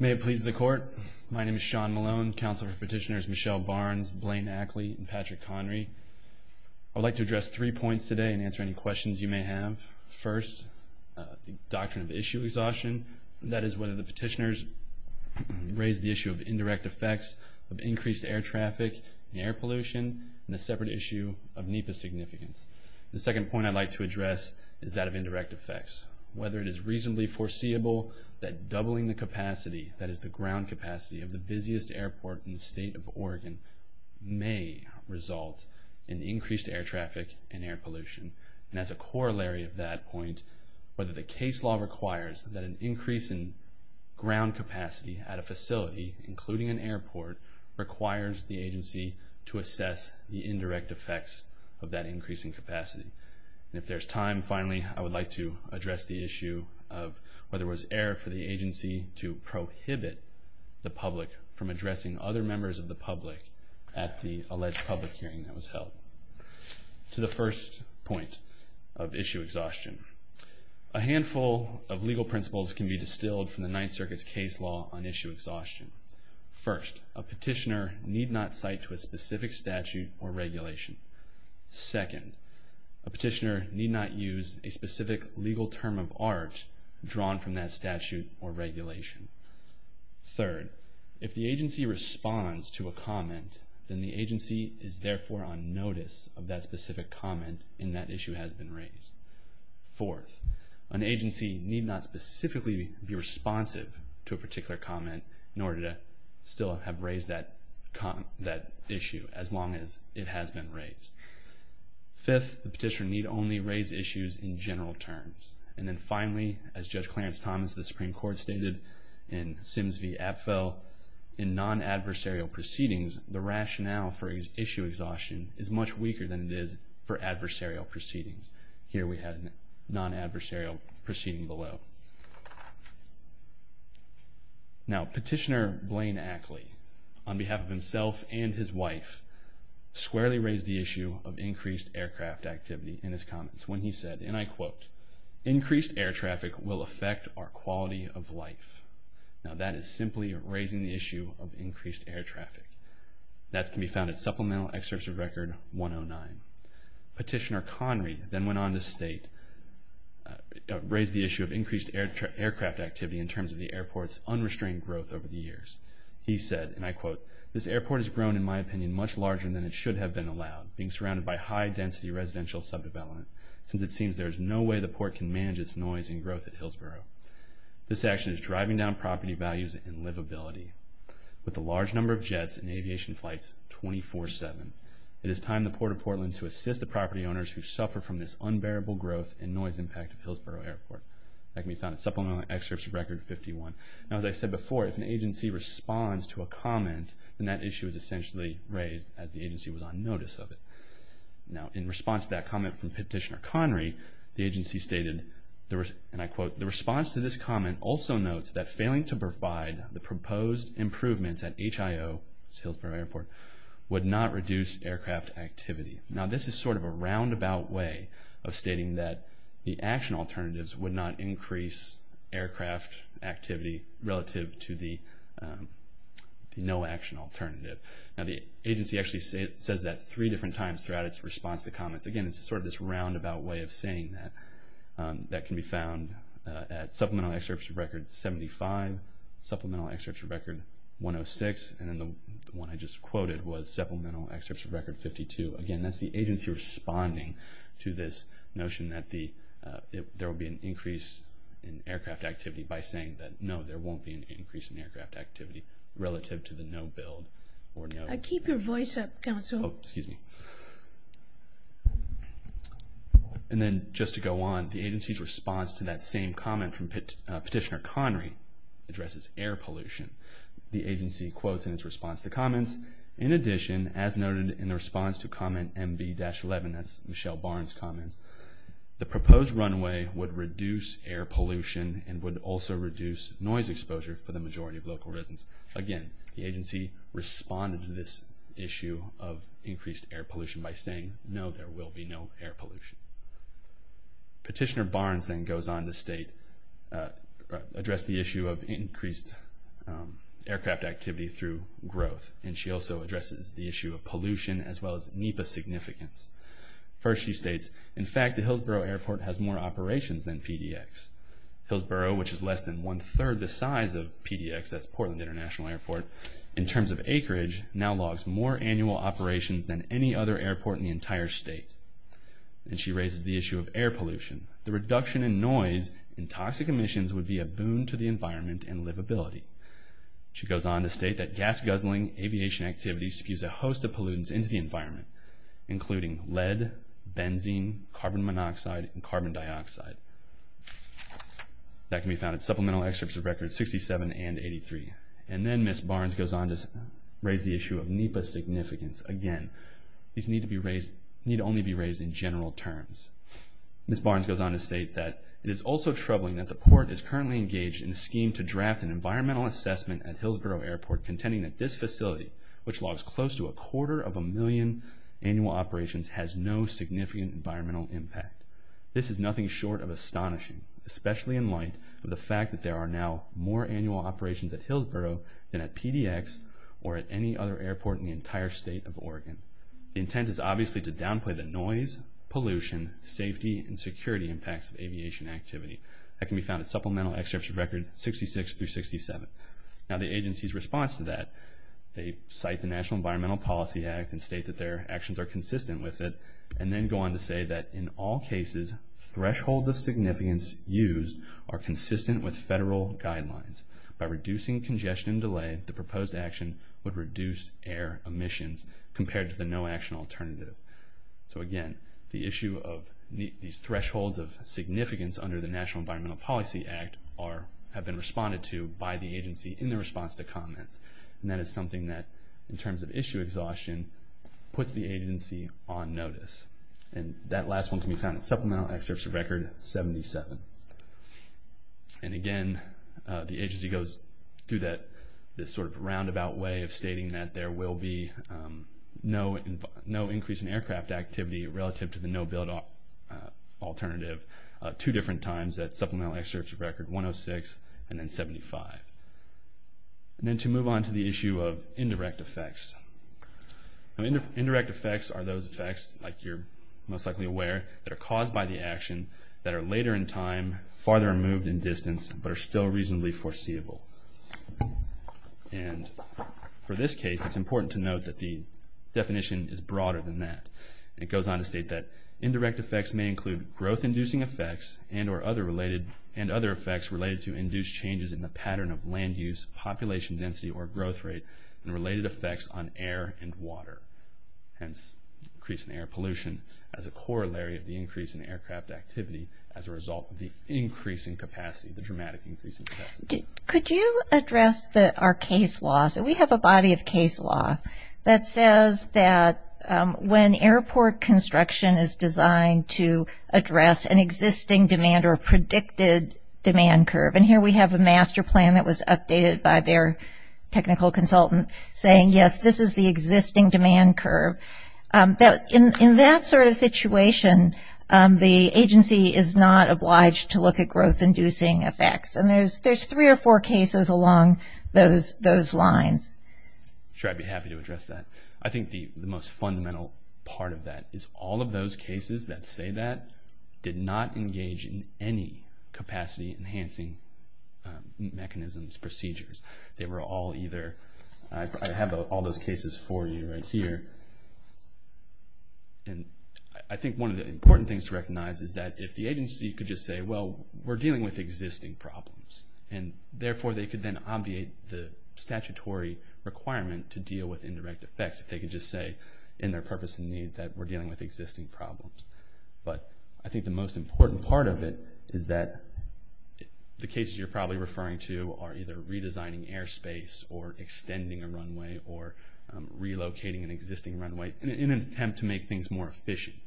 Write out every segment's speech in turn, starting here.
May it please the court, my name is Sean Malone, counsel for petitioners Michelle Barnes, Blaine Ackley, and Patrick Connery. I would like to address three points today and answer any questions you may have. First, the doctrine of issue exhaustion, that is whether the petitioners raise the issue of indirect effects of increased air traffic, air pollution, and the separate issue of NEPA significance. The second point I'd like to address is that of indirect effects, whether it is reasonably foreseeable that doubling the capacity, that is the ground capacity, of the busiest airport in the state of Oregon may result in increased air traffic and air pollution. And as a corollary of that point, whether the case law requires that an increase in ground capacity at a facility, including an airport, requires the agency to assess the indirect effects of that increase in capacity. And if there's time, finally, I would like to address the issue of whether it was air for the agency to prohibit the public from addressing other members of the public at the alleged public hearing that was held. To the first point of issue exhaustion, a handful of legal principles can be distilled from the Ninth Circuit's case law on issue exhaustion. First, a petitioner need not cite to a specific statute or regulation. Second, a petitioner need not use a specific legal term of art drawn from that statute or regulation. Third, if the agency responds to a comment, then the agency is therefore on notice of that specific comment and that issue has been raised. Fourth, an agency need not specifically be responsive to a particular comment in order to still have raised that issue, as long as it has been raised. Fifth, the petitioner need only raise issues in general terms. And then finally, as Judge Clarence Thomas of the Supreme Court stated in Sims v. Apfel, in non-adversarial proceedings, the rationale for issue exhaustion is much weaker than it is for adversarial proceedings. Here we have a non-adversarial proceeding below. Now, Petitioner Blaine Ackley, on behalf of himself and his wife, squarely raised the issue of increased aircraft activity in his comments when he said, and I quote, Increased air traffic will affect our quality of life. Now, that is simply raising the issue of increased air traffic. That can be found in Supplemental Excerpt of Record 109. Petitioner Connery then went on to state, raise the issue of increased aircraft activity in terms of the airport's unrestrained growth over the years. He said, and I quote, This action is driving down property values and livability. With a large number of jets and aviation flights 24-7, it is time the Port of Portland to assist the property owners who suffer from this unbearable growth and noise impact of Hillsborough Airport. That can be found in Supplemental Excerpt of Record 51. Now, as I said before, if an agency responds to a comment, then that issue is essentially raised as the agency was on notice of it. Now, in response to that comment from Petitioner Connery, the agency stated, and I quote, The response to this comment also notes that failing to provide the proposed improvements at HIO, Hillsborough Airport, would not reduce aircraft activity. Now, this is sort of a roundabout way of stating that the action alternatives would not increase aircraft activity relative to the no action alternative. Now, the agency actually says that three different times throughout its response to comments. Again, it's sort of this roundabout way of saying that. That can be found at Supplemental Excerpt of Record 75, Supplemental Excerpt of Record 106, and then the one I just quoted was Supplemental Excerpt of Record 52. Again, that's the agency responding to this notion that there will be an increase in aircraft activity by saying that, no, there won't be an increase in aircraft activity relative to the no build. Keep your voice up, counsel. Oh, excuse me. And then, just to go on, the agency's response to that same comment from Petitioner Connery addresses air pollution. The agency quotes in its response to the comments, In addition, as noted in the response to comment MB-11, that's Michelle Barnes' comments, the proposed runway would reduce air pollution and would also reduce noise exposure for the majority of local residents. Again, the agency responded to this issue of increased air pollution by saying, no, there will be no air pollution. Petitioner Barnes then goes on to state, address the issue of increased aircraft activity through growth, and she also addresses the issue of pollution as well as NEPA significance. First, she states, in fact, the Hillsborough Airport has more operations than PDX. Hillsborough, which is less than one-third the size of PDX, that's Portland International Airport, in terms of acreage, now logs more annual operations than any other airport in the entire state. And she raises the issue of air pollution. The reduction in noise and toxic emissions would be a boon to the environment and livability. She goes on to state that gas-guzzling aviation activity spews a host of pollutants into the environment, including lead, benzene, carbon monoxide, and carbon dioxide. That can be found in supplemental excerpts of records 67 and 83. And then Ms. Barnes goes on to raise the issue of NEPA significance. Again, these need only be raised in general terms. Ms. Barnes goes on to state that it is also troubling that the Port is currently engaged in a scheme to draft an environmental assessment at Hillsborough Airport contending that this facility, which logs close to a quarter of a million annual operations, has no significant environmental impact. This is nothing short of astonishing, especially in light of the fact that there are now more annual operations at Hillsborough than at PDX or at any other airport in the entire state of Oregon. The intent is obviously to downplay the noise, pollution, safety, and security impacts of aviation activity. That can be found in supplemental excerpts of records 66 through 67. Now the agency's response to that, they cite the National Environmental Policy Act and state that their actions are consistent with it, and then go on to say that in all cases, thresholds of significance used are consistent with federal guidelines. By reducing congestion and delay, the proposed action would reduce air emissions compared to the no-action alternative. Again, the issue of these thresholds of significance under the National Environmental Policy Act have been responded to by the agency in their response to comments. That is something that, in terms of issue exhaustion, puts the agency on notice. That last one can be found in supplemental excerpts of record 77. And again, the agency goes through this sort of roundabout way of stating that there will be no increase in aircraft activity relative to the no-build alternative two different times at supplemental excerpts of record 106 and then 75. And then to move on to the issue of indirect effects. Indirect effects are those effects, like you're most likely aware, that are caused by the action that are later in time, farther removed in distance, but are still reasonably foreseeable. And for this case, it's important to note that the definition is broader than that. It goes on to state that indirect effects may include growth-inducing effects and other effects related to induced changes in the pattern of land use, population density, or growth rate, and related effects on air and water. Hence, increase in air pollution as a corollary of the increase in aircraft activity as a result of the increasing capacity, the dramatic increase in capacity. Could you address our case law? So we have a body of case law that says that when airport construction is designed to address an existing demand or a predicted demand curve, and here we have a master plan that was updated by their technical consultant saying, yes, this is the existing demand curve. In that sort of situation, the agency is not obliged to look at growth-inducing effects. And there's three or four cases along those lines. Sure, I'd be happy to address that. I think the most fundamental part of that is all of those cases that say that did not engage in any capacity-enhancing mechanisms, procedures. They were all either – I have all those cases for you right here. And I think one of the important things to recognize is that if the agency could just say, well, we're dealing with existing problems, and therefore they could then obviate the statutory requirement to deal with indirect effects if they could just say in their purpose and need that we're dealing with existing problems. But I think the most important part of it is that the cases you're probably referring to are either redesigning airspace or extending a runway or relocating an existing runway in an attempt to make things more efficient.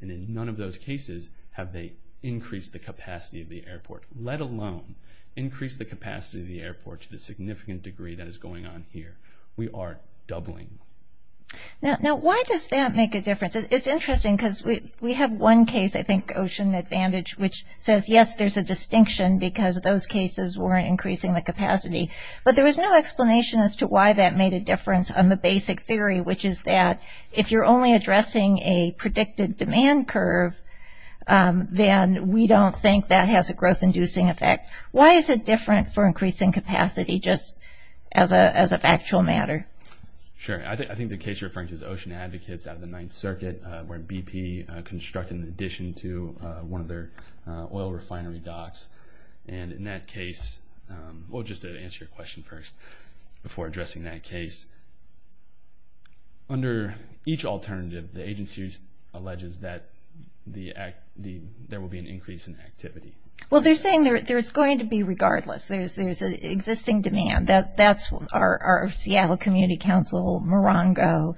And in none of those cases have they increased the capacity of the airport, let alone increased the capacity of the airport to the significant degree that is going on here. We are doubling. Now, why does that make a difference? It's interesting because we have one case, I think, Ocean Advantage, which says, yes, there's a distinction because those cases weren't increasing the capacity. But there was no explanation as to why that made a difference on the basic theory, which is that if you're only addressing a predicted demand curve, then we don't think that has a growth-inducing effect. Why is it different for increasing capacity just as a factual matter? Sure. I think the case you're referring to is Ocean Advocates out of the Ninth Circuit, where BP constructed an addition to one of their oil refinery docks. And in that case, well, just to answer your question first before addressing that case, under each alternative the agency alleges that there will be an increase in activity. Well, they're saying there's going to be regardless. There's an existing demand. That's our Seattle Community Council, Morongo,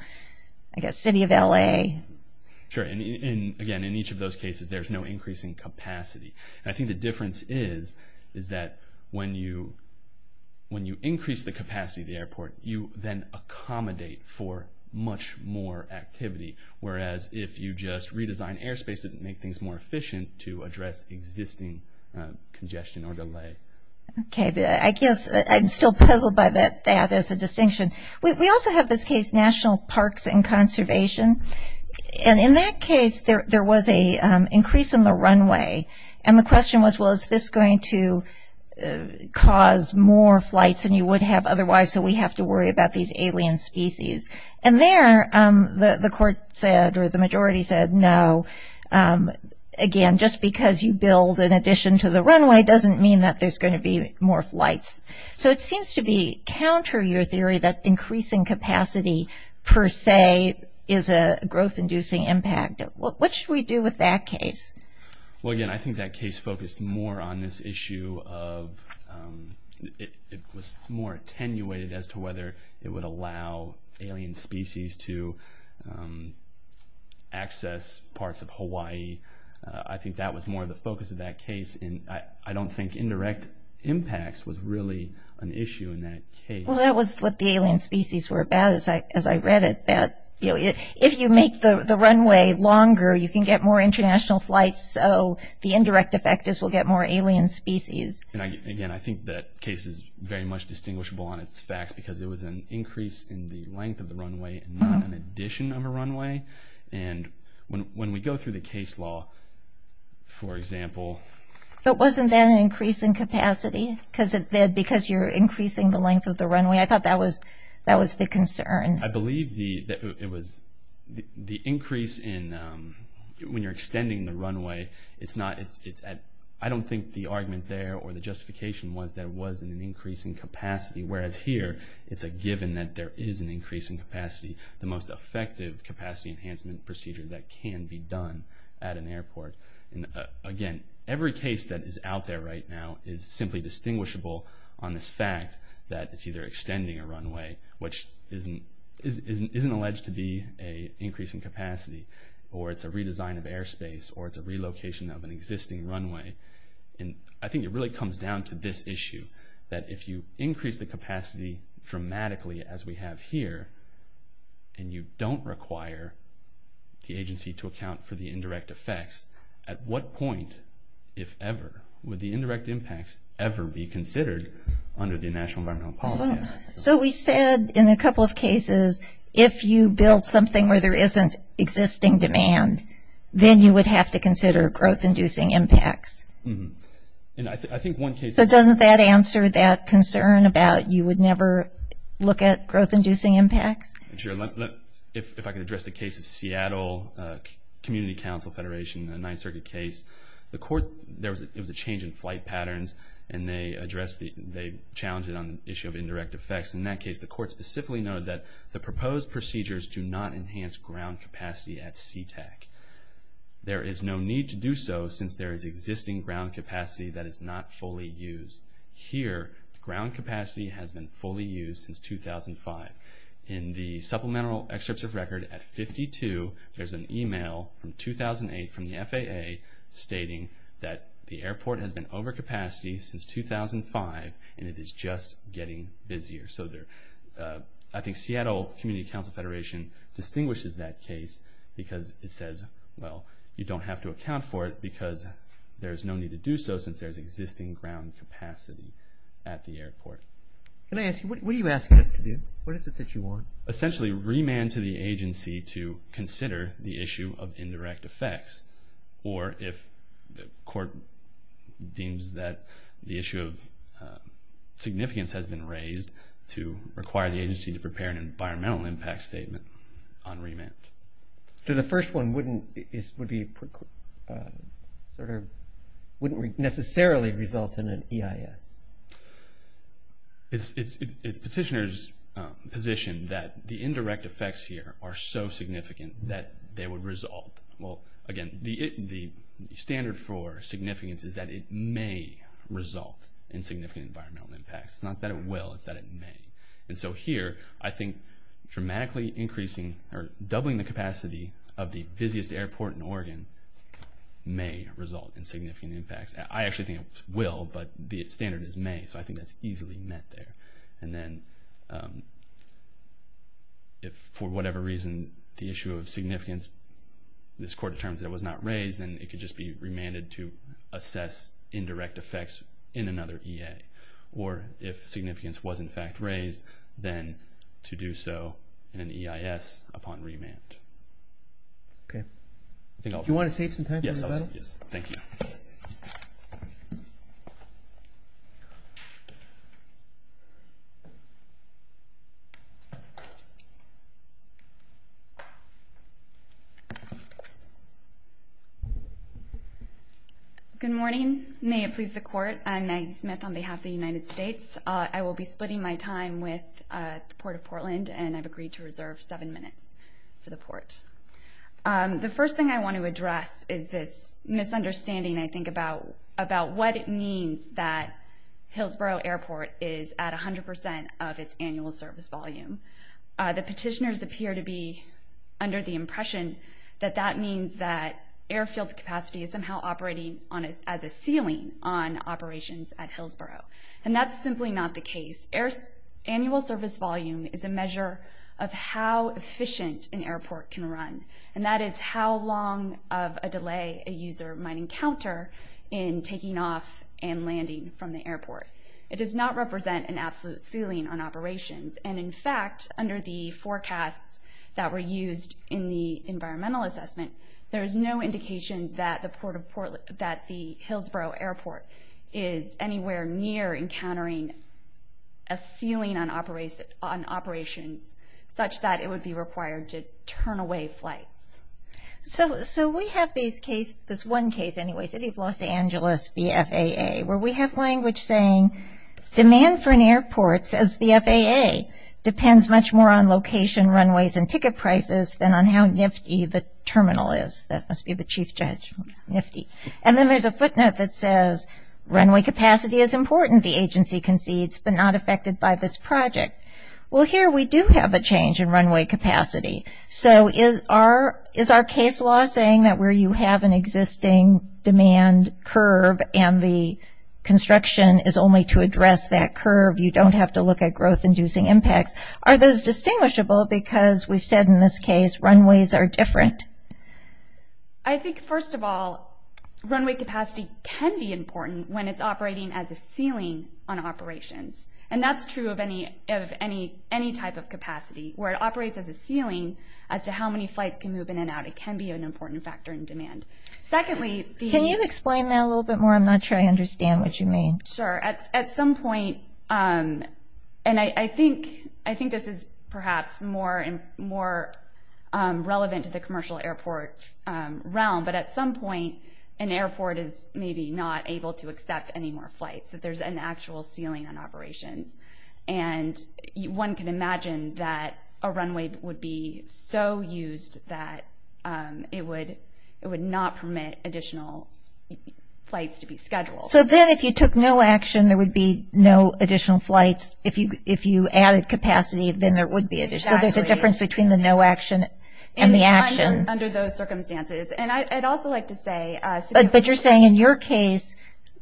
I guess City of L.A. Sure. And, again, in each of those cases there's no increase in capacity. And I think the difference is that when you increase the capacity of the airport, you then accommodate for much more activity, whereas if you just redesign airspace it would make things more efficient to address existing congestion or delay. Okay. I guess I'm still puzzled by that as a distinction. We also have this case, National Parks and Conservation, and in that case there was an increase in the runway. And the question was, well, is this going to cause more flights than you would have otherwise, so we have to worry about these alien species? And there the court said, or the majority said, no. Again, just because you build in addition to the runway doesn't mean that there's going to be more flights. So it seems to be counter to your theory that increasing capacity per se is a growth-inducing impact. What should we do with that case? Well, again, I think that case focused more on this issue of it was more attenuated as to whether it would allow alien species to access parts of Hawaii. I think that was more the focus of that case, and I don't think indirect impacts was really an issue in that case. Well, that was what the alien species were about, as I read it, that if you make the runway longer you can get more international flights, so the indirect effect is we'll get more alien species. Again, I think that case is very much distinguishable on its facts because it was an increase in the length of the runway and not an addition of a runway. And when we go through the case law, for example... But wasn't that an increase in capacity because you're increasing the length of the runway? I thought that was the concern. I believe the increase in when you're extending the runway, I don't think the argument there or the justification was that it was an increase in capacity, whereas here it's a given that there is an increase in capacity, the most effective capacity enhancement procedure that can be done at an airport. Again, every case that is out there right now is simply distinguishable on this fact that it's either extending a runway, which isn't alleged to be an increase in capacity, or it's a redesign of airspace, or it's a relocation of an existing runway. I think it really comes down to this issue, that if you increase the capacity dramatically as we have here and you don't require the agency to account for the indirect effects, at what point, if ever, would the indirect impacts ever be considered under the National Environmental Policy Act? So we said in a couple of cases, if you build something where there isn't existing demand, then you would have to consider growth-inducing impacts. So doesn't that answer that concern about you would never look at growth-inducing impacts? Sure. If I can address the case of Seattle Community Council Federation, a Ninth Circuit case, there was a change in flight patterns and they challenged it on the issue of indirect effects. In that case, the court specifically noted that the proposed procedures do not enhance ground capacity at SeaTac. There is no need to do so since there is existing ground capacity that is not fully used. Here, ground capacity has been fully used since 2005. In the Supplemental Excerpts of Record at 52, there's an email from 2008 from the FAA stating that the airport has been over capacity since 2005 and it is just getting busier. So I think Seattle Community Council Federation distinguishes that case because it says, well, you don't have to account for it because there's no need to do so since there's existing ground capacity at the airport. Can I ask you, what are you asking us to do? What is it that you want? Essentially, remand to the agency to consider the issue of indirect effects or if the court deems that the issue of significance has been raised to require the agency to prepare an environmental impact statement on remand. So the first one wouldn't necessarily result in an EIS? It's petitioner's position that the indirect effects here are so significant that they would result. Well, again, the standard for significance is that it may result in significant environmental impacts. It's not that it will, it's that it may. And so here, I think dramatically increasing or doubling the capacity of the busiest airport in Oregon may result in significant impacts. I actually think it will, but the standard is may, so I think that's easily met there. And then if, for whatever reason, the issue of significance, this court determines that it was not raised, then it could just be remanded to assess indirect effects in another EA. Or if significance was in fact raised, then to do so in an EIS upon remand. Okay. Do you want to save some time for everybody? Yes, thank you. Thank you. Good morning. May it please the Court, I'm Maggie Smith on behalf of the United States. I will be splitting my time with the Port of Portland, and I've agreed to reserve seven minutes for the Port. The first thing I want to address is this misunderstanding, I think, about what it means that Hillsborough Airport is at 100% of its annual service volume. The petitioners appear to be under the impression that that means that airfield capacity is somehow operating as a ceiling on operations at Hillsborough, and that's simply not the case. Annual service volume is a measure of how efficient an airport can run, and that is how long of a delay a user might encounter in taking off and landing from the airport. It does not represent an absolute ceiling on operations, and in fact under the forecasts that were used in the environmental assessment, there is no indication that the Hillsborough Airport is anywhere near encountering a ceiling on operations such that it would be required to turn away flights. So we have this one case anyway, City of Los Angeles v. FAA, where we have language saying, demand for an airport, says the FAA, depends much more on location, runways, and ticket prices than on how nifty the terminal is. That must be the chief judge, nifty. And then there's a footnote that says, runway capacity is important, the agency concedes, but not affected by this project. Well, here we do have a change in runway capacity. So is our case law saying that where you have an existing demand curve and the construction is only to address that curve, you don't have to look at growth-inducing impacts? Are those distinguishable? Because we've said in this case, runways are different. I think, first of all, runway capacity can be important when it's operating as a ceiling on operations, and that's true of any type of capacity. Where it operates as a ceiling, as to how many flights can move in and out, it can be an important factor in demand. Secondly, the- Can you explain that a little bit more? I'm not sure I understand what you mean. Sure. At some point, and I think this is perhaps more relevant to the commercial airport realm, but at some point an airport is maybe not able to accept any more flights, that there's an actual ceiling on operations. And one can imagine that a runway would be so used that it would not permit additional flights to be scheduled. So then if you took no action, there would be no additional flights. If you added capacity, then there would be. Exactly. So there's a difference between the no action and the action. Under those circumstances. And I'd also like to say- But you're saying in your case,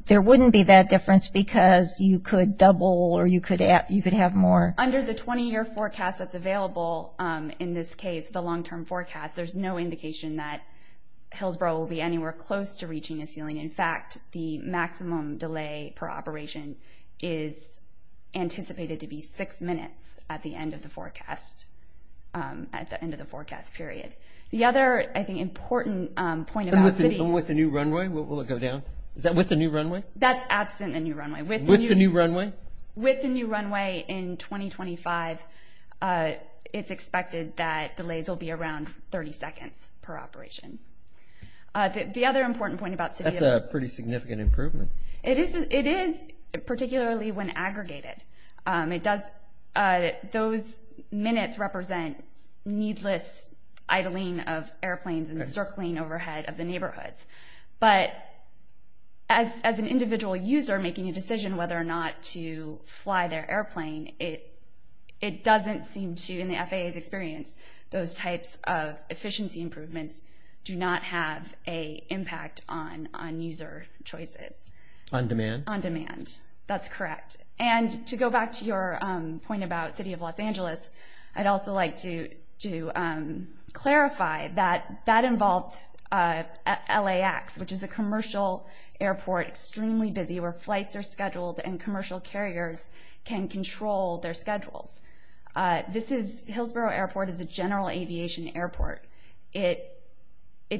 there wouldn't be that difference because you could double or you could have more. Under the 20-year forecast that's available in this case, the long-term forecast, there's no indication that Hillsboro will be anywhere close to reaching a ceiling. In fact, the maximum delay per operation is anticipated to be six minutes at the end of the forecast period. The other, I think, important point about city- And with the new runway? Will it go down? Is that with the new runway? That's absent the new runway. With the new runway? With the new runway in 2025, it's expected that delays will be around 30 seconds per operation. The other important point about city- That's a pretty significant improvement. It is, particularly when aggregated. Those minutes represent needless idling of airplanes and circling overhead of the neighborhoods. But as an individual user making a decision whether or not to fly their airplane, it doesn't seem to, in the FAA's experience, those types of efficiency improvements do not have an impact on user choices. On demand? On demand. That's correct. And to go back to your point about city of Los Angeles, I'd also like to clarify that that involved LAX, which is a commercial airport, extremely busy, where flights are scheduled and commercial carriers can control their schedules. This is-Hillsborough Airport is a general aviation airport. It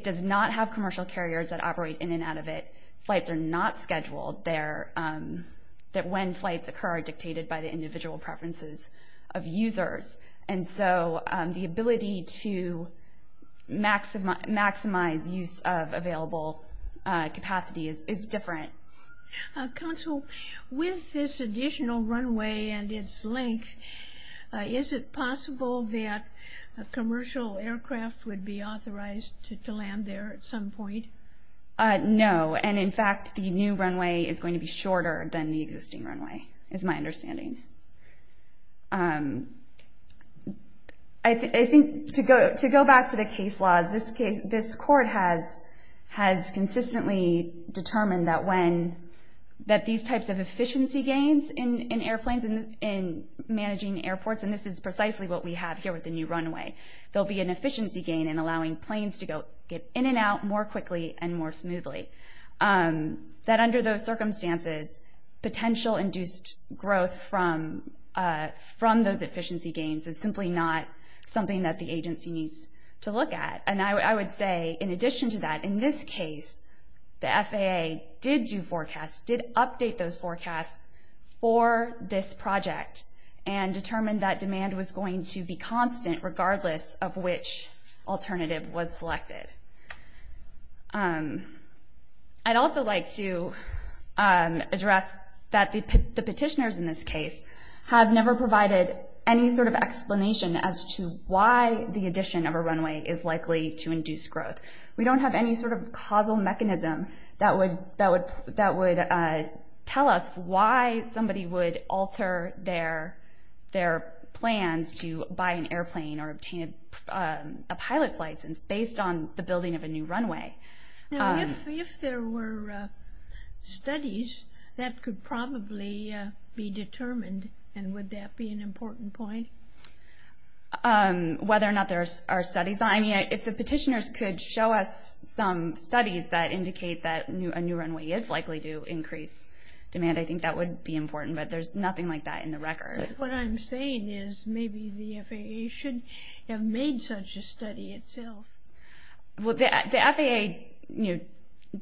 does not have commercial carriers that operate in and out of it. Flights are not scheduled there. When flights occur are dictated by the individual preferences of users. And so the ability to maximize use of available capacity is different. Counsel, with this additional runway and its length, is it possible that a commercial aircraft would be authorized to land there at some point? No. And, in fact, the new runway is going to be shorter than the existing runway, is my understanding. I think to go back to the case laws, this court has consistently determined that these types of efficiency gains in airplanes and managing airports, and this is precisely what we have here with the new runway, there will be an efficiency gain in allowing planes to get in and out more quickly and more smoothly. That under those circumstances, potential induced growth from those efficiency gains is simply not something that the agency needs to look at. And I would say, in addition to that, in this case, the FAA did do forecasts, did update those forecasts for this project and determined that demand was going to be constant regardless of which alternative was selected. I'd also like to address that the petitioners in this case have never provided any sort of explanation as to why the addition of a runway is likely to induce growth. We don't have any sort of causal mechanism that would tell us why somebody would alter their plans to buy an airplane or obtain a pilot's license based on the building of a new runway. If there were studies, that could probably be determined, and would that be an important point? Whether or not there are studies, if the petitioners could show us some studies that indicate that a new runway is likely to increase demand, I think that would be important, but there's nothing like that in the record. What I'm saying is maybe the FAA should have made such a study itself. Well, the FAA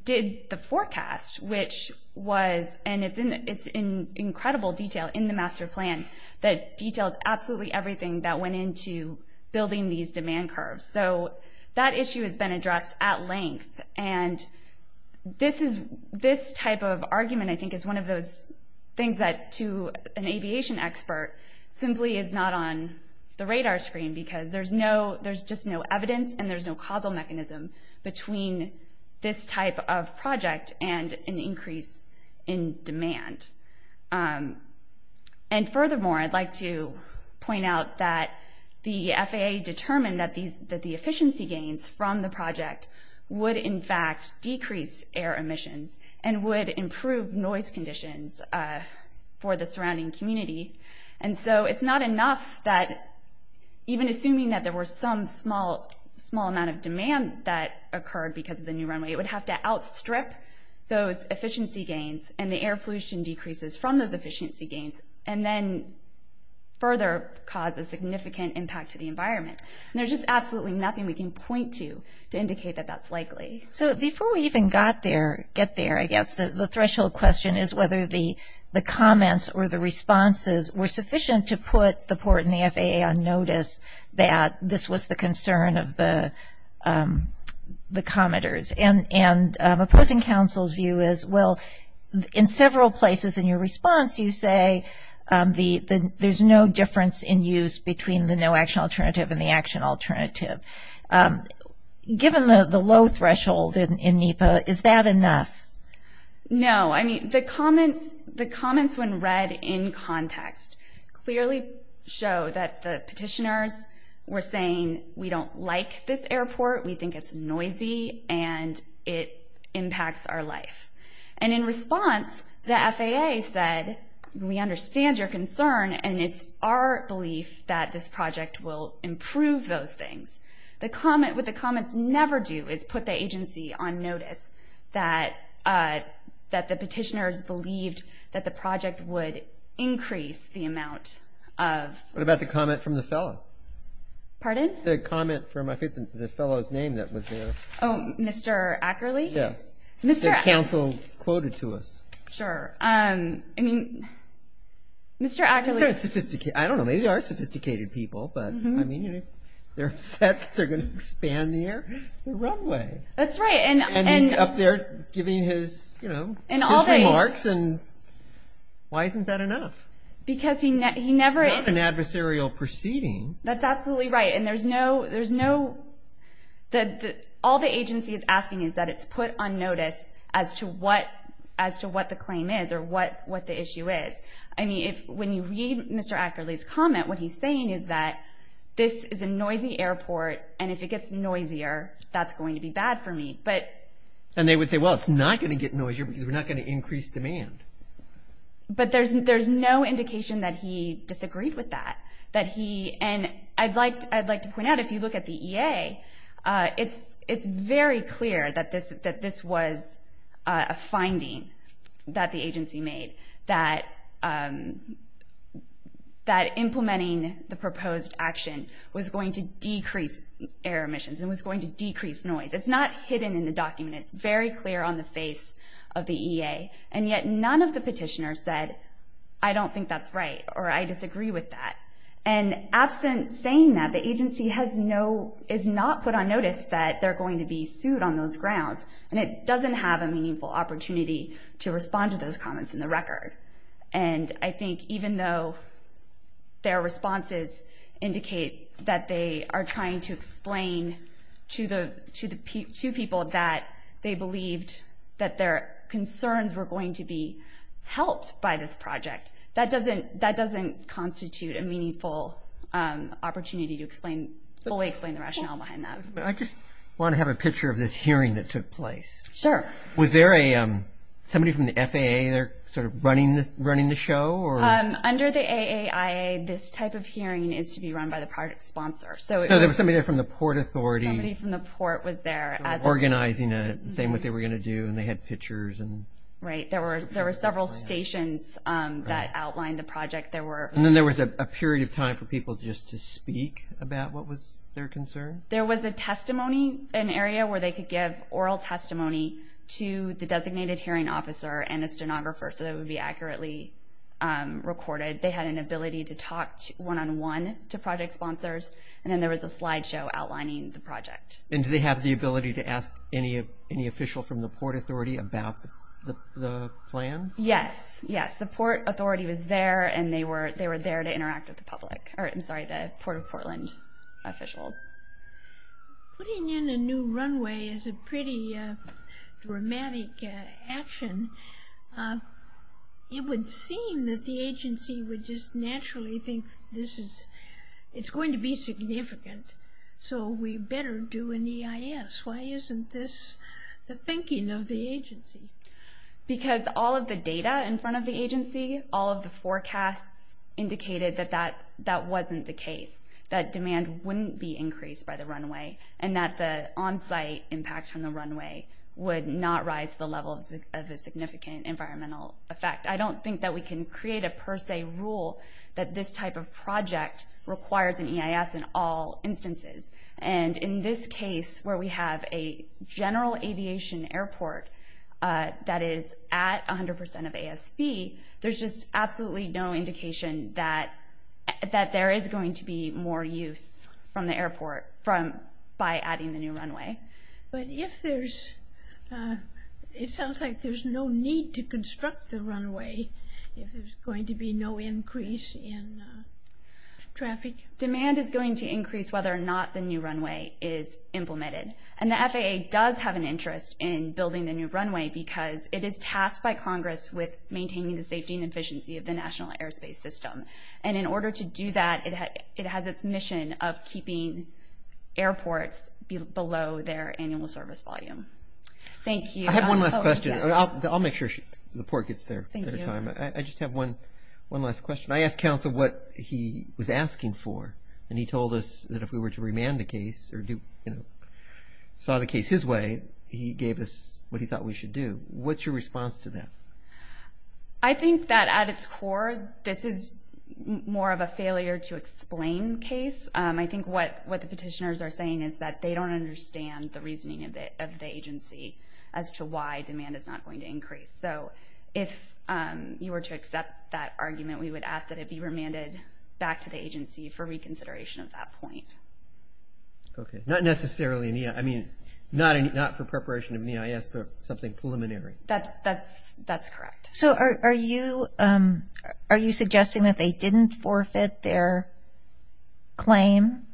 did the forecast, which was, and it's in incredible detail in the master plan, that details absolutely everything that went into building these demand curves. So that issue has been addressed at length, and this type of argument, I think, is one of those things that to an aviation expert simply is not on the radar screen, because there's just no evidence and there's no causal mechanism between this type of project and an increase in demand. And furthermore, I'd like to point out that the FAA determined that the efficiency gains from the project would in fact decrease air emissions and would improve noise conditions for the surrounding community. And so it's not enough that even assuming that there were some small amount of demand that occurred because of the new runway, it would have to outstrip those efficiency gains and the air pollution decreases from those efficiency gains and then further cause a significant impact to the environment. And there's just absolutely nothing we can point to to indicate that that's likely. So before we even get there, I guess, the threshold question is whether the comments or the responses were sufficient to put the port and the FAA on notice that this was the concern of the commenters. And opposing counsel's view is, well, in several places in your response, you say there's no difference in use between the no-action alternative and the action alternative. Given the low threshold in NEPA, is that enough? No. I mean, the comments when read in context clearly show that the petitioners were saying, we don't like this airport, we think it's noisy, and it impacts our life. And in response, the FAA said, we understand your concern, and it's our belief that this project will improve those things. What the comments never do is put the agency on notice that the petitioners believed that the project would increase the amount of. What about the comment from the fellow? Pardon? The comment from I think the fellow's name that was there. Oh, Mr. Ackerley? Yes. That counsel quoted to us. Sure. I mean, Mr. Ackerley. I don't know, maybe they are sophisticated people, but I mean they're upset that they're going to expand the runway. That's right. And he's up there giving his remarks, and why isn't that enough? Because he never. It's not an adversarial proceeding. That's absolutely right. All the agency is asking is that it's put on notice as to what the claim is or what the issue is. I mean, when you read Mr. Ackerley's comment, what he's saying is that this is a noisy airport, and if it gets noisier, that's going to be bad for me. And they would say, well, it's not going to get noisier because we're not going to increase demand. But there's no indication that he disagreed with that. And I'd like to point out, if you look at the EA, it's very clear that this was a finding that the agency made, that implementing the proposed action was going to decrease air emissions and was going to decrease noise. It's not hidden in the document. It's very clear on the face of the EA. And yet none of the petitioners said, I don't think that's right or I disagree with that. And absent saying that, the agency is not put on notice that they're going to be sued on those grounds, and it doesn't have a meaningful opportunity to respond to those comments in the record. And I think even though their responses indicate that they are trying to explain to people that they believed that their concerns were going to be That doesn't constitute a meaningful opportunity to fully explain the rationale behind that. I just want to have a picture of this hearing that took place. Sure. Was there somebody from the FAA there sort of running the show? Under the AAIA, this type of hearing is to be run by the project sponsor. So there was somebody there from the Port Authority. Somebody from the Port was there. Organizing it, saying what they were going to do, and they had pictures. Right. There were several stations that outlined the project. And then there was a period of time for people just to speak about what was their concern? There was a testimony, an area where they could give oral testimony to the designated hearing officer and a stenographer so that it would be accurately recorded. They had an ability to talk one-on-one to project sponsors, and then there was a slideshow outlining the project. And do they have the ability to ask any official from the Port Authority about the plans? Yes, yes. The Port Authority was there, and they were there to interact with the Port of Portland officials. Putting in a new runway is a pretty dramatic action. It would seem that the agency would just naturally think it's going to be significant, so we better do an EIS. Why isn't this the thinking of the agency? Because all of the data in front of the agency, all of the forecasts indicated that that wasn't the case, that demand wouldn't be increased by the runway, and that the on-site impact from the runway would not rise to the level of a significant environmental effect. I don't think that we can create a per se rule that this type of project requires an EIS in all instances. And in this case, where we have a general aviation airport that is at 100% of ASV, there's just absolutely no indication that there is going to be more use from the airport by adding the new runway. But it sounds like there's no need to construct the runway if there's going to be no increase in traffic. Demand is going to increase whether or not the new runway is implemented. And the FAA does have an interest in building the new runway because it is tasked by Congress with maintaining the safety and efficiency of the national airspace system. And in order to do that, it has its mission of keeping airports below their annual service volume. Thank you. I have one last question. I'll make sure the report gets there in time. I just have one last question. I asked counsel what he was asking for, and he told us that if we were to remand the case or saw the case his way, he gave us what he thought we should do. What's your response to that? I think that at its core, this is more of a failure to explain case. I think what the petitioners are saying is that they don't understand the reasoning of the agency as to why demand is not going to increase. So if you were to accept that argument, we would ask that it be remanded back to the agency for reconsideration at that point. Okay. Not necessarily, I mean, not for preparation of NEIS, but something preliminary. That's correct. So are you suggesting that they didn't forfeit their claim,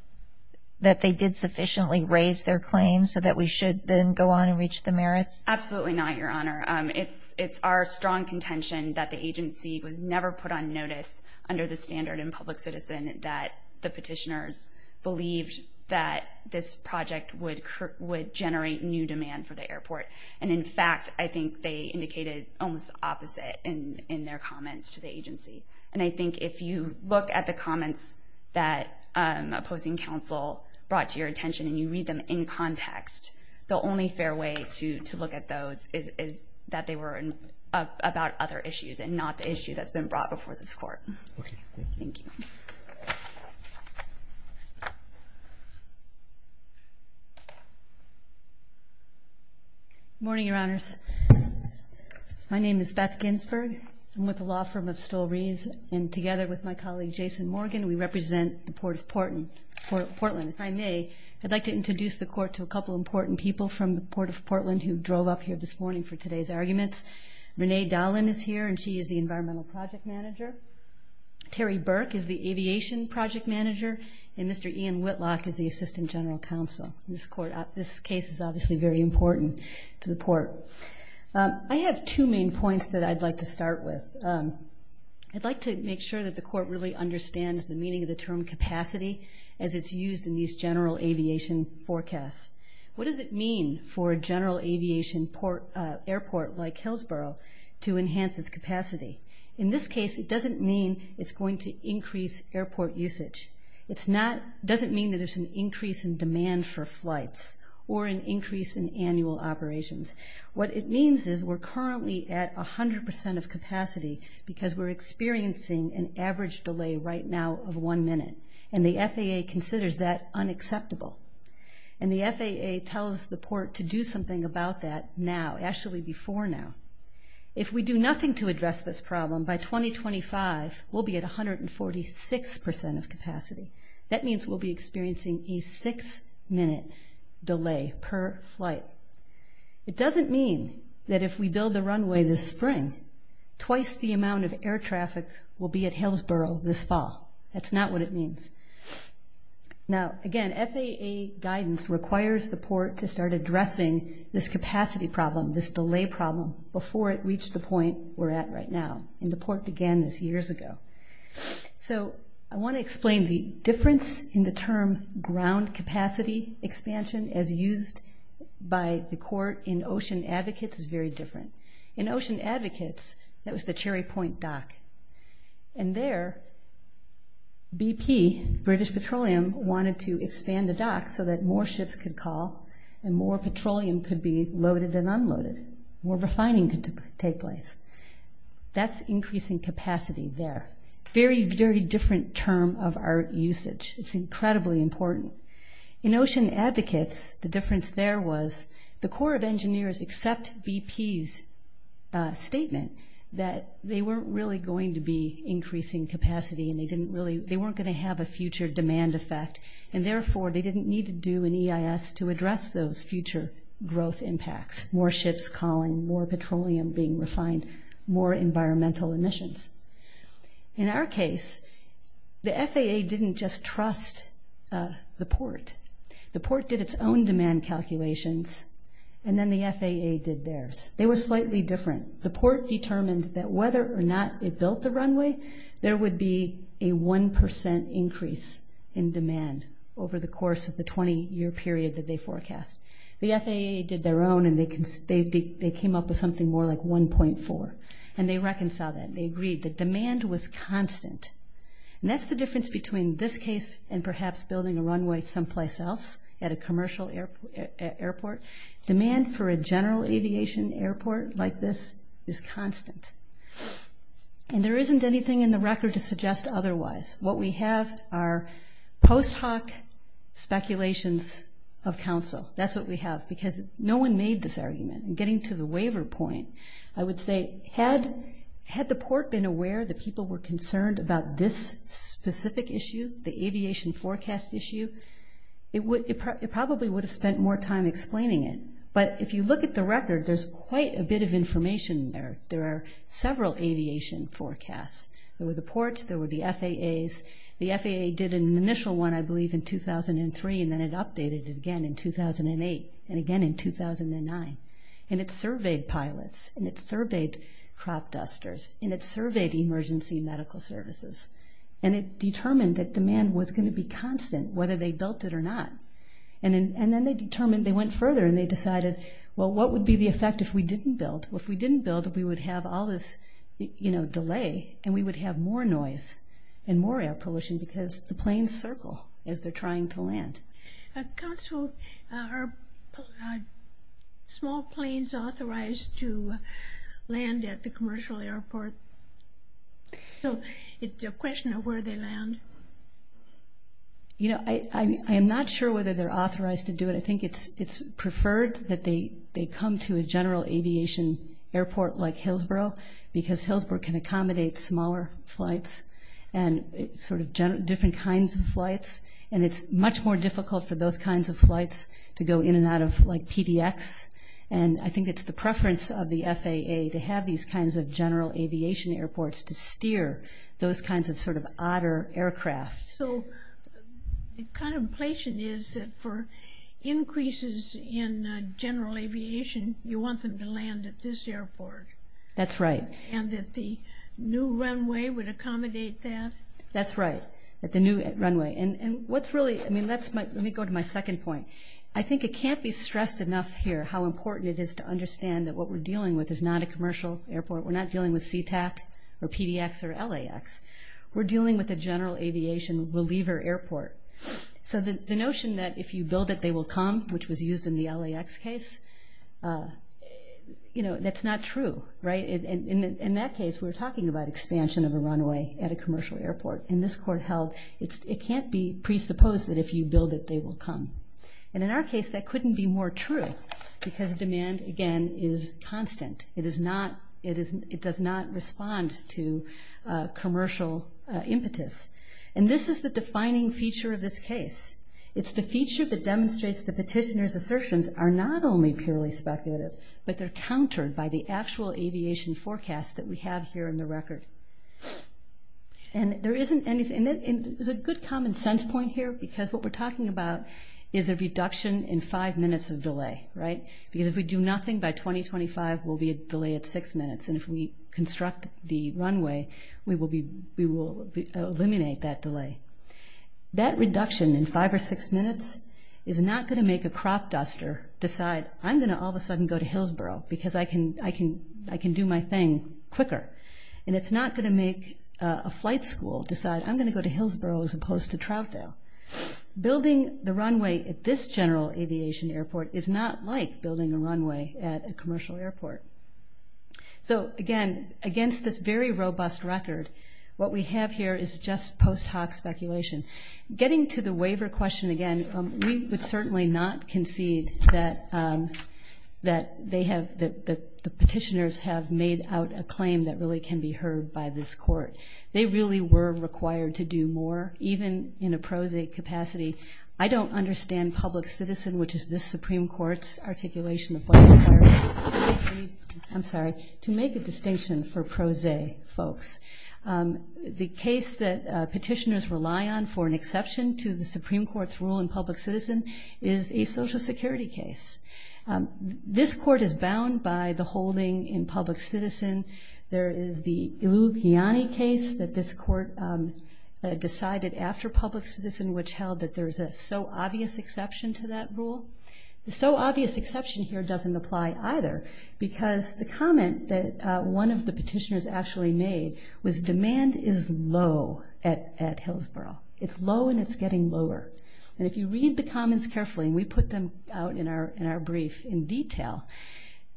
that they did sufficiently raise their claim so that we should then go on and reach the merits? Absolutely not, Your Honor. It's our strong contention that the agency was never put on notice under the standard in public citizen that the petitioners believed that this project would generate new demand for the airport. And, in fact, I think they indicated almost the opposite in their comments to the agency. And I think if you look at the comments that opposing counsel brought to your attention and you read them in context, the only fair way to look at those is that they were about other issues and not the issue that's been brought before this court. Thank you. Thank you. Good morning, Your Honors. My name is Beth Ginsberg. I'm with the law firm of Stoll-Rees, and together with my colleague Jason Morgan, we represent the Port of Portland. If I may, I'd like to introduce the court to a couple of important people from the Port of Portland who drove up here this morning for today's arguments. Renee Dollin is here, and she is the Environmental Project Manager. Terry Burke is the Aviation Project Manager, and Mr. Ian Whitlock is the Assistant General Counsel. This case is obviously very important to the court. I have two main points that I'd like to start with. I'd like to make sure that the court really understands the meaning of the term capacity as it's used in these general aviation forecasts. What does it mean for a general aviation airport like Hillsboro to enhance its capacity? In this case, it doesn't mean it's going to increase airport usage. It doesn't mean that there's an increase in demand for flights or an increase in annual operations. What it means is we're currently at 100% of capacity because we're experiencing an average delay right now of one minute, and the FAA considers that unacceptable. And the FAA tells the port to do something about that now, actually before now. If we do nothing to address this problem, by 2025 we'll be at 146% of capacity. That means we'll be experiencing a six-minute delay per flight. It doesn't mean that if we build a runway this spring, twice the amount of air traffic will be at Hillsboro this fall. That's not what it means. Now, again, FAA guidance requires the port to start addressing this capacity problem, this delay problem, before it reached the point we're at right now, and the port began this years ago. So I want to explain the difference in the term ground capacity expansion as used by the court in Ocean Advocates is very different. In Ocean Advocates, that was the Cherry Point dock, and there BP, British Petroleum, wanted to expand the dock so that more ships could call and more petroleum could be loaded and unloaded, more refining could take place. That's increasing capacity there. Very, very different term of our usage. It's incredibly important. In Ocean Advocates, the difference there was the Corps of Engineers except BP's statement that they weren't really going to be increasing capacity and they weren't going to have a future demand effect, and, therefore, they didn't need to do an EIS to address those future growth impacts, more ships calling, more petroleum being refined, more environmental emissions. In our case, the FAA didn't just trust the port. The port did its own demand calculations, and then the FAA did theirs. They were slightly different. The port determined that whether or not it built the runway, there would be a 1% increase in demand over the course of the 20-year period that they forecast. The FAA did their own, and they came up with something more like 1.4, and they reconciled that. They agreed that demand was constant, and that's the difference between this case and perhaps building a runway someplace else at a commercial airport. Demand for a general aviation airport like this is constant, and there isn't anything in the record to suggest otherwise. What we have are post hoc speculations of counsel. That's what we have because no one made this argument. Getting to the waiver point, I would say, had the port been aware that people were concerned about this specific issue, the aviation forecast issue, it probably would have spent more time explaining it. But if you look at the record, there's quite a bit of information there. There are several aviation forecasts. There were the ports. There were the FAAs. The FAA did an initial one, I believe, in 2003, and then it updated it again in 2008 and again in 2009. It surveyed pilots, and it surveyed crop dusters, and it surveyed emergency medical services, and it determined that demand was going to be constant whether they built it or not. Then they determined they went further, and they decided, well, what would be the effect if we didn't build? If we didn't build, we would have all this delay, and we would have more noise and more air pollution because the planes circle as they're trying to land. Council, are small planes authorized to land at the commercial airport? So it's a question of where they land. I am not sure whether they're authorized to do it. I think it's preferred that they come to a general aviation airport like Hillsboro because Hillsboro can accommodate smaller flights and sort of different kinds of flights, and it's much more difficult for those kinds of flights to go in and out of like PDX, and I think it's the preference of the FAA to have these kinds of general aviation airports to steer those kinds of sort of otter aircraft. So the contemplation is that for increases in general aviation, you want them to land at this airport? That's right. And that the new runway would accommodate that? That's right, that the new runway. And what's really – let me go to my second point. I think it can't be stressed enough here how important it is to understand that what we're dealing with is not a commercial airport. We're not dealing with CTAC or PDX or LAX. We're dealing with a general aviation reliever airport. So the notion that if you build it, they will come, which was used in the LAX case, you know, that's not true, right? In that case, we're talking about expansion of a runway at a commercial airport. In this court held, it can't be presupposed that if you build it, they will come. And in our case, that couldn't be more true because demand, again, is constant. It does not respond to commercial impetus. And this is the defining feature of this case. It's the feature that demonstrates the petitioner's assertions are not only purely speculative, but they're countered by the actual aviation forecast that we have here in the record. And there isn't anything – and there's a good common sense point here because what we're talking about is a reduction in five minutes of delay, right? Because if we do nothing by 2025, we'll be a delay at six minutes. And if we construct the runway, we will eliminate that delay. That reduction in five or six minutes is not going to make a crop duster decide, I'm going to all of a sudden go to Hillsboro because I can do my thing quicker. And it's not going to make a flight school decide, I'm going to go to Hillsboro as opposed to Troutdale. Building the runway at this general aviation airport is not like building a runway at a commercial airport. So, again, against this very robust record, what we have here is just post hoc speculation. Getting to the waiver question again, we would certainly not concede that they have – that the petitioners have made out a claim that really can be heard by this court. They really were required to do more, even in a pro se capacity. I don't understand public citizen, which is this Supreme Court's articulation I'm sorry, to make a distinction for pro se folks. The case that petitioners rely on for an exception to the Supreme Court's rule in public citizen is a social security case. This court is bound by the holding in public citizen. There is the Ilugiani case that this court decided after public citizen, which held that there's a so obvious exception to that rule. The so obvious exception here doesn't apply either because the comment that one of the petitioners actually made was demand is low at Hillsboro. It's low and it's getting lower. And if you read the comments carefully, and we put them out in our brief in detail,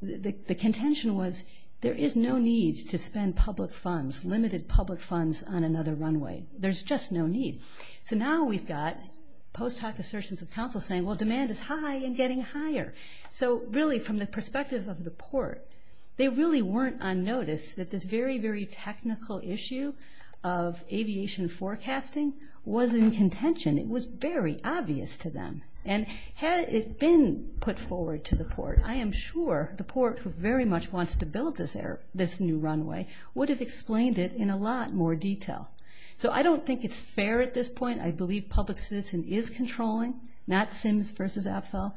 the contention was there is no need to spend public funds, limited public funds on another runway. There's just no need. So now we've got post hoc assertions of counsel saying, well, demand is high and getting higher. So really from the perspective of the port, they really weren't unnoticed that this very, very technical issue of aviation forecasting was in contention. It was very obvious to them. And had it been put forward to the port, I am sure the port, who very much wants to build this new runway, would have explained it in a lot more detail. So I don't think it's fair at this point. I believe public citizen is controlling, not Sims versus Apfel.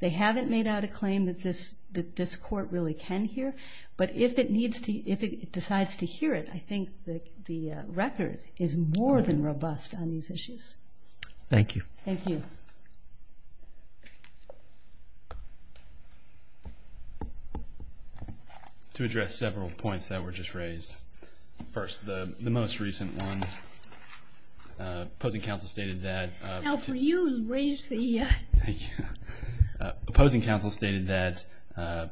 They haven't made out a claim that this court really can hear. But if it decides to hear it, I think the record is more than robust on these issues. Thank you. Thank you. To address several points that were just raised. First, the most recent one. Opposing counsel stated that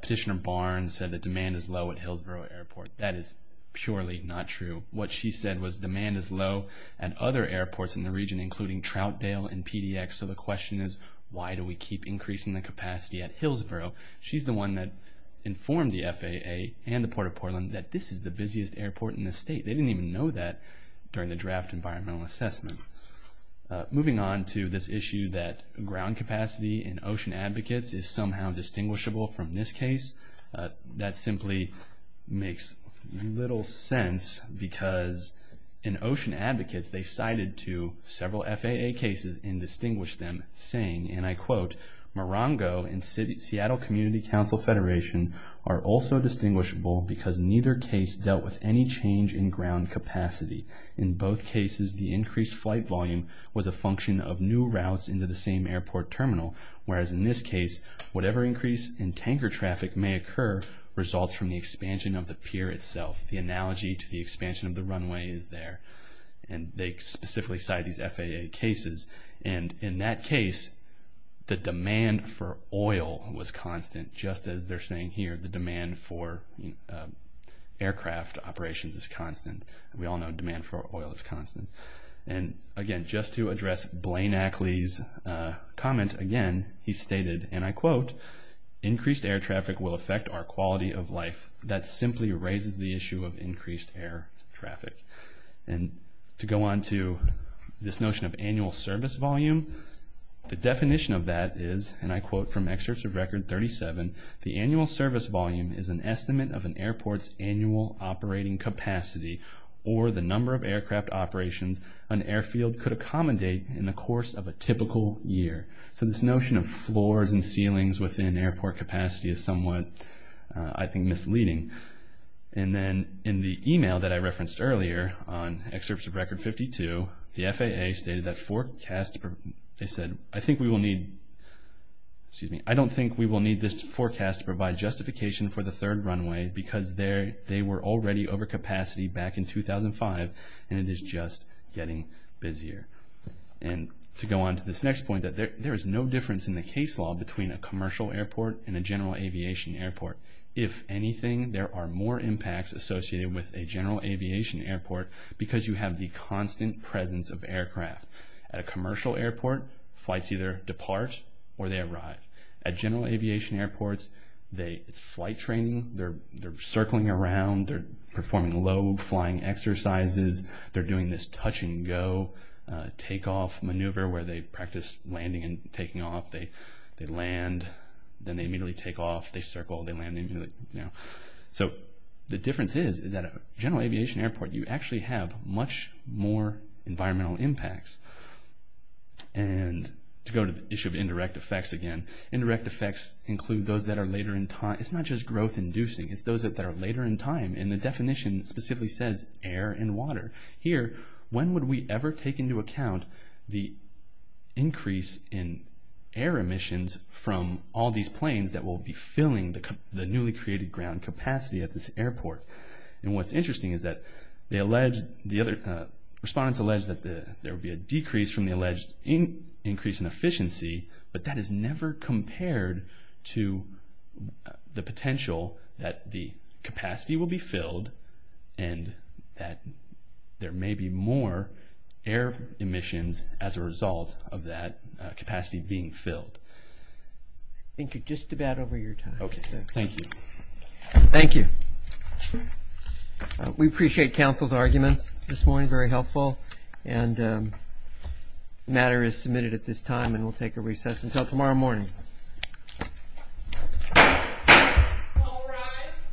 petitioner Barnes said that demand is low at Hillsborough Airport. That is purely not true. What she said was demand is low at other airports in the region, including Troutdale and PDX. So the question is, why do we keep increasing the capacity at Hillsborough? She's the one that informed the FAA and the Port of Portland that this is the busiest airport in the state. They didn't even know that during the draft environmental assessment. Moving on to this issue that ground capacity in Ocean Advocates is somehow distinguishable from this case. That simply makes little sense because in Ocean Advocates, they cited to several FAA cases and distinguished them, saying, and I quote, Morongo and Seattle Community Council Federation are also distinguishable because neither case dealt with any change in ground capacity. In both cases, the increased flight volume was a function of new routes into the same airport terminal, whereas in this case, whatever increase in tanker traffic may occur results from the expansion of the pier itself. The analogy to the expansion of the runway is there. And they specifically cite these FAA cases. And in that case, the demand for oil was constant. Just as they're saying here, the demand for aircraft operations is constant. We all know demand for oil is constant. And again, just to address Blaine Ackley's comment, again, he stated, and I quote, Increased air traffic will affect our quality of life. That simply raises the issue of increased air traffic. And to go on to this notion of annual service volume, the definition of that is, and I quote from Excerpts of Record 37, The annual service volume is an estimate of an airport's annual operating capacity or the number of aircraft operations an airfield could accommodate in the course of a typical year. So this notion of floors and ceilings within airport capacity is somewhat, I think, misleading. And then in the email that I referenced earlier on Excerpts of Record 52, the FAA stated that forecast, they said, I think we will need, excuse me, I don't think we will need this forecast to provide justification for the third runway because they were already over capacity back in 2005 and it is just getting busier. And to go on to this next point, that there is no difference in the case law between a commercial airport and a general aviation airport. If anything, there are more impacts associated with a general aviation airport because you have the constant presence of aircraft. At a commercial airport, flights either depart or they arrive. At general aviation airports, it's flight training. They're circling around. They're performing low flying exercises. They're doing this touch and go takeoff maneuver where they practice landing and taking off. They land. Then they immediately take off. They circle. They land immediately. So the difference is that at a general aviation airport, you actually have much more environmental impacts. And to go to the issue of indirect effects again, indirect effects include those that are later in time. It's not just growth inducing. It's those that are later in time. And the definition specifically says air and water. Here, when would we ever take into account the increase in air emissions from all these planes that will be filling the newly created ground capacity at this airport? And what's interesting is that the other respondents alleged that there would be a decrease from the alleged increase in efficiency, but that is never compared to the potential that the capacity will be filled and that there may be more air emissions as a result of that capacity being filled. I think you're just about over your time. Okay. Thank you. Thank you. We appreciate counsel's arguments this morning. Very helpful. And the matter is submitted at this time and we'll take a recess until tomorrow morning. All rise.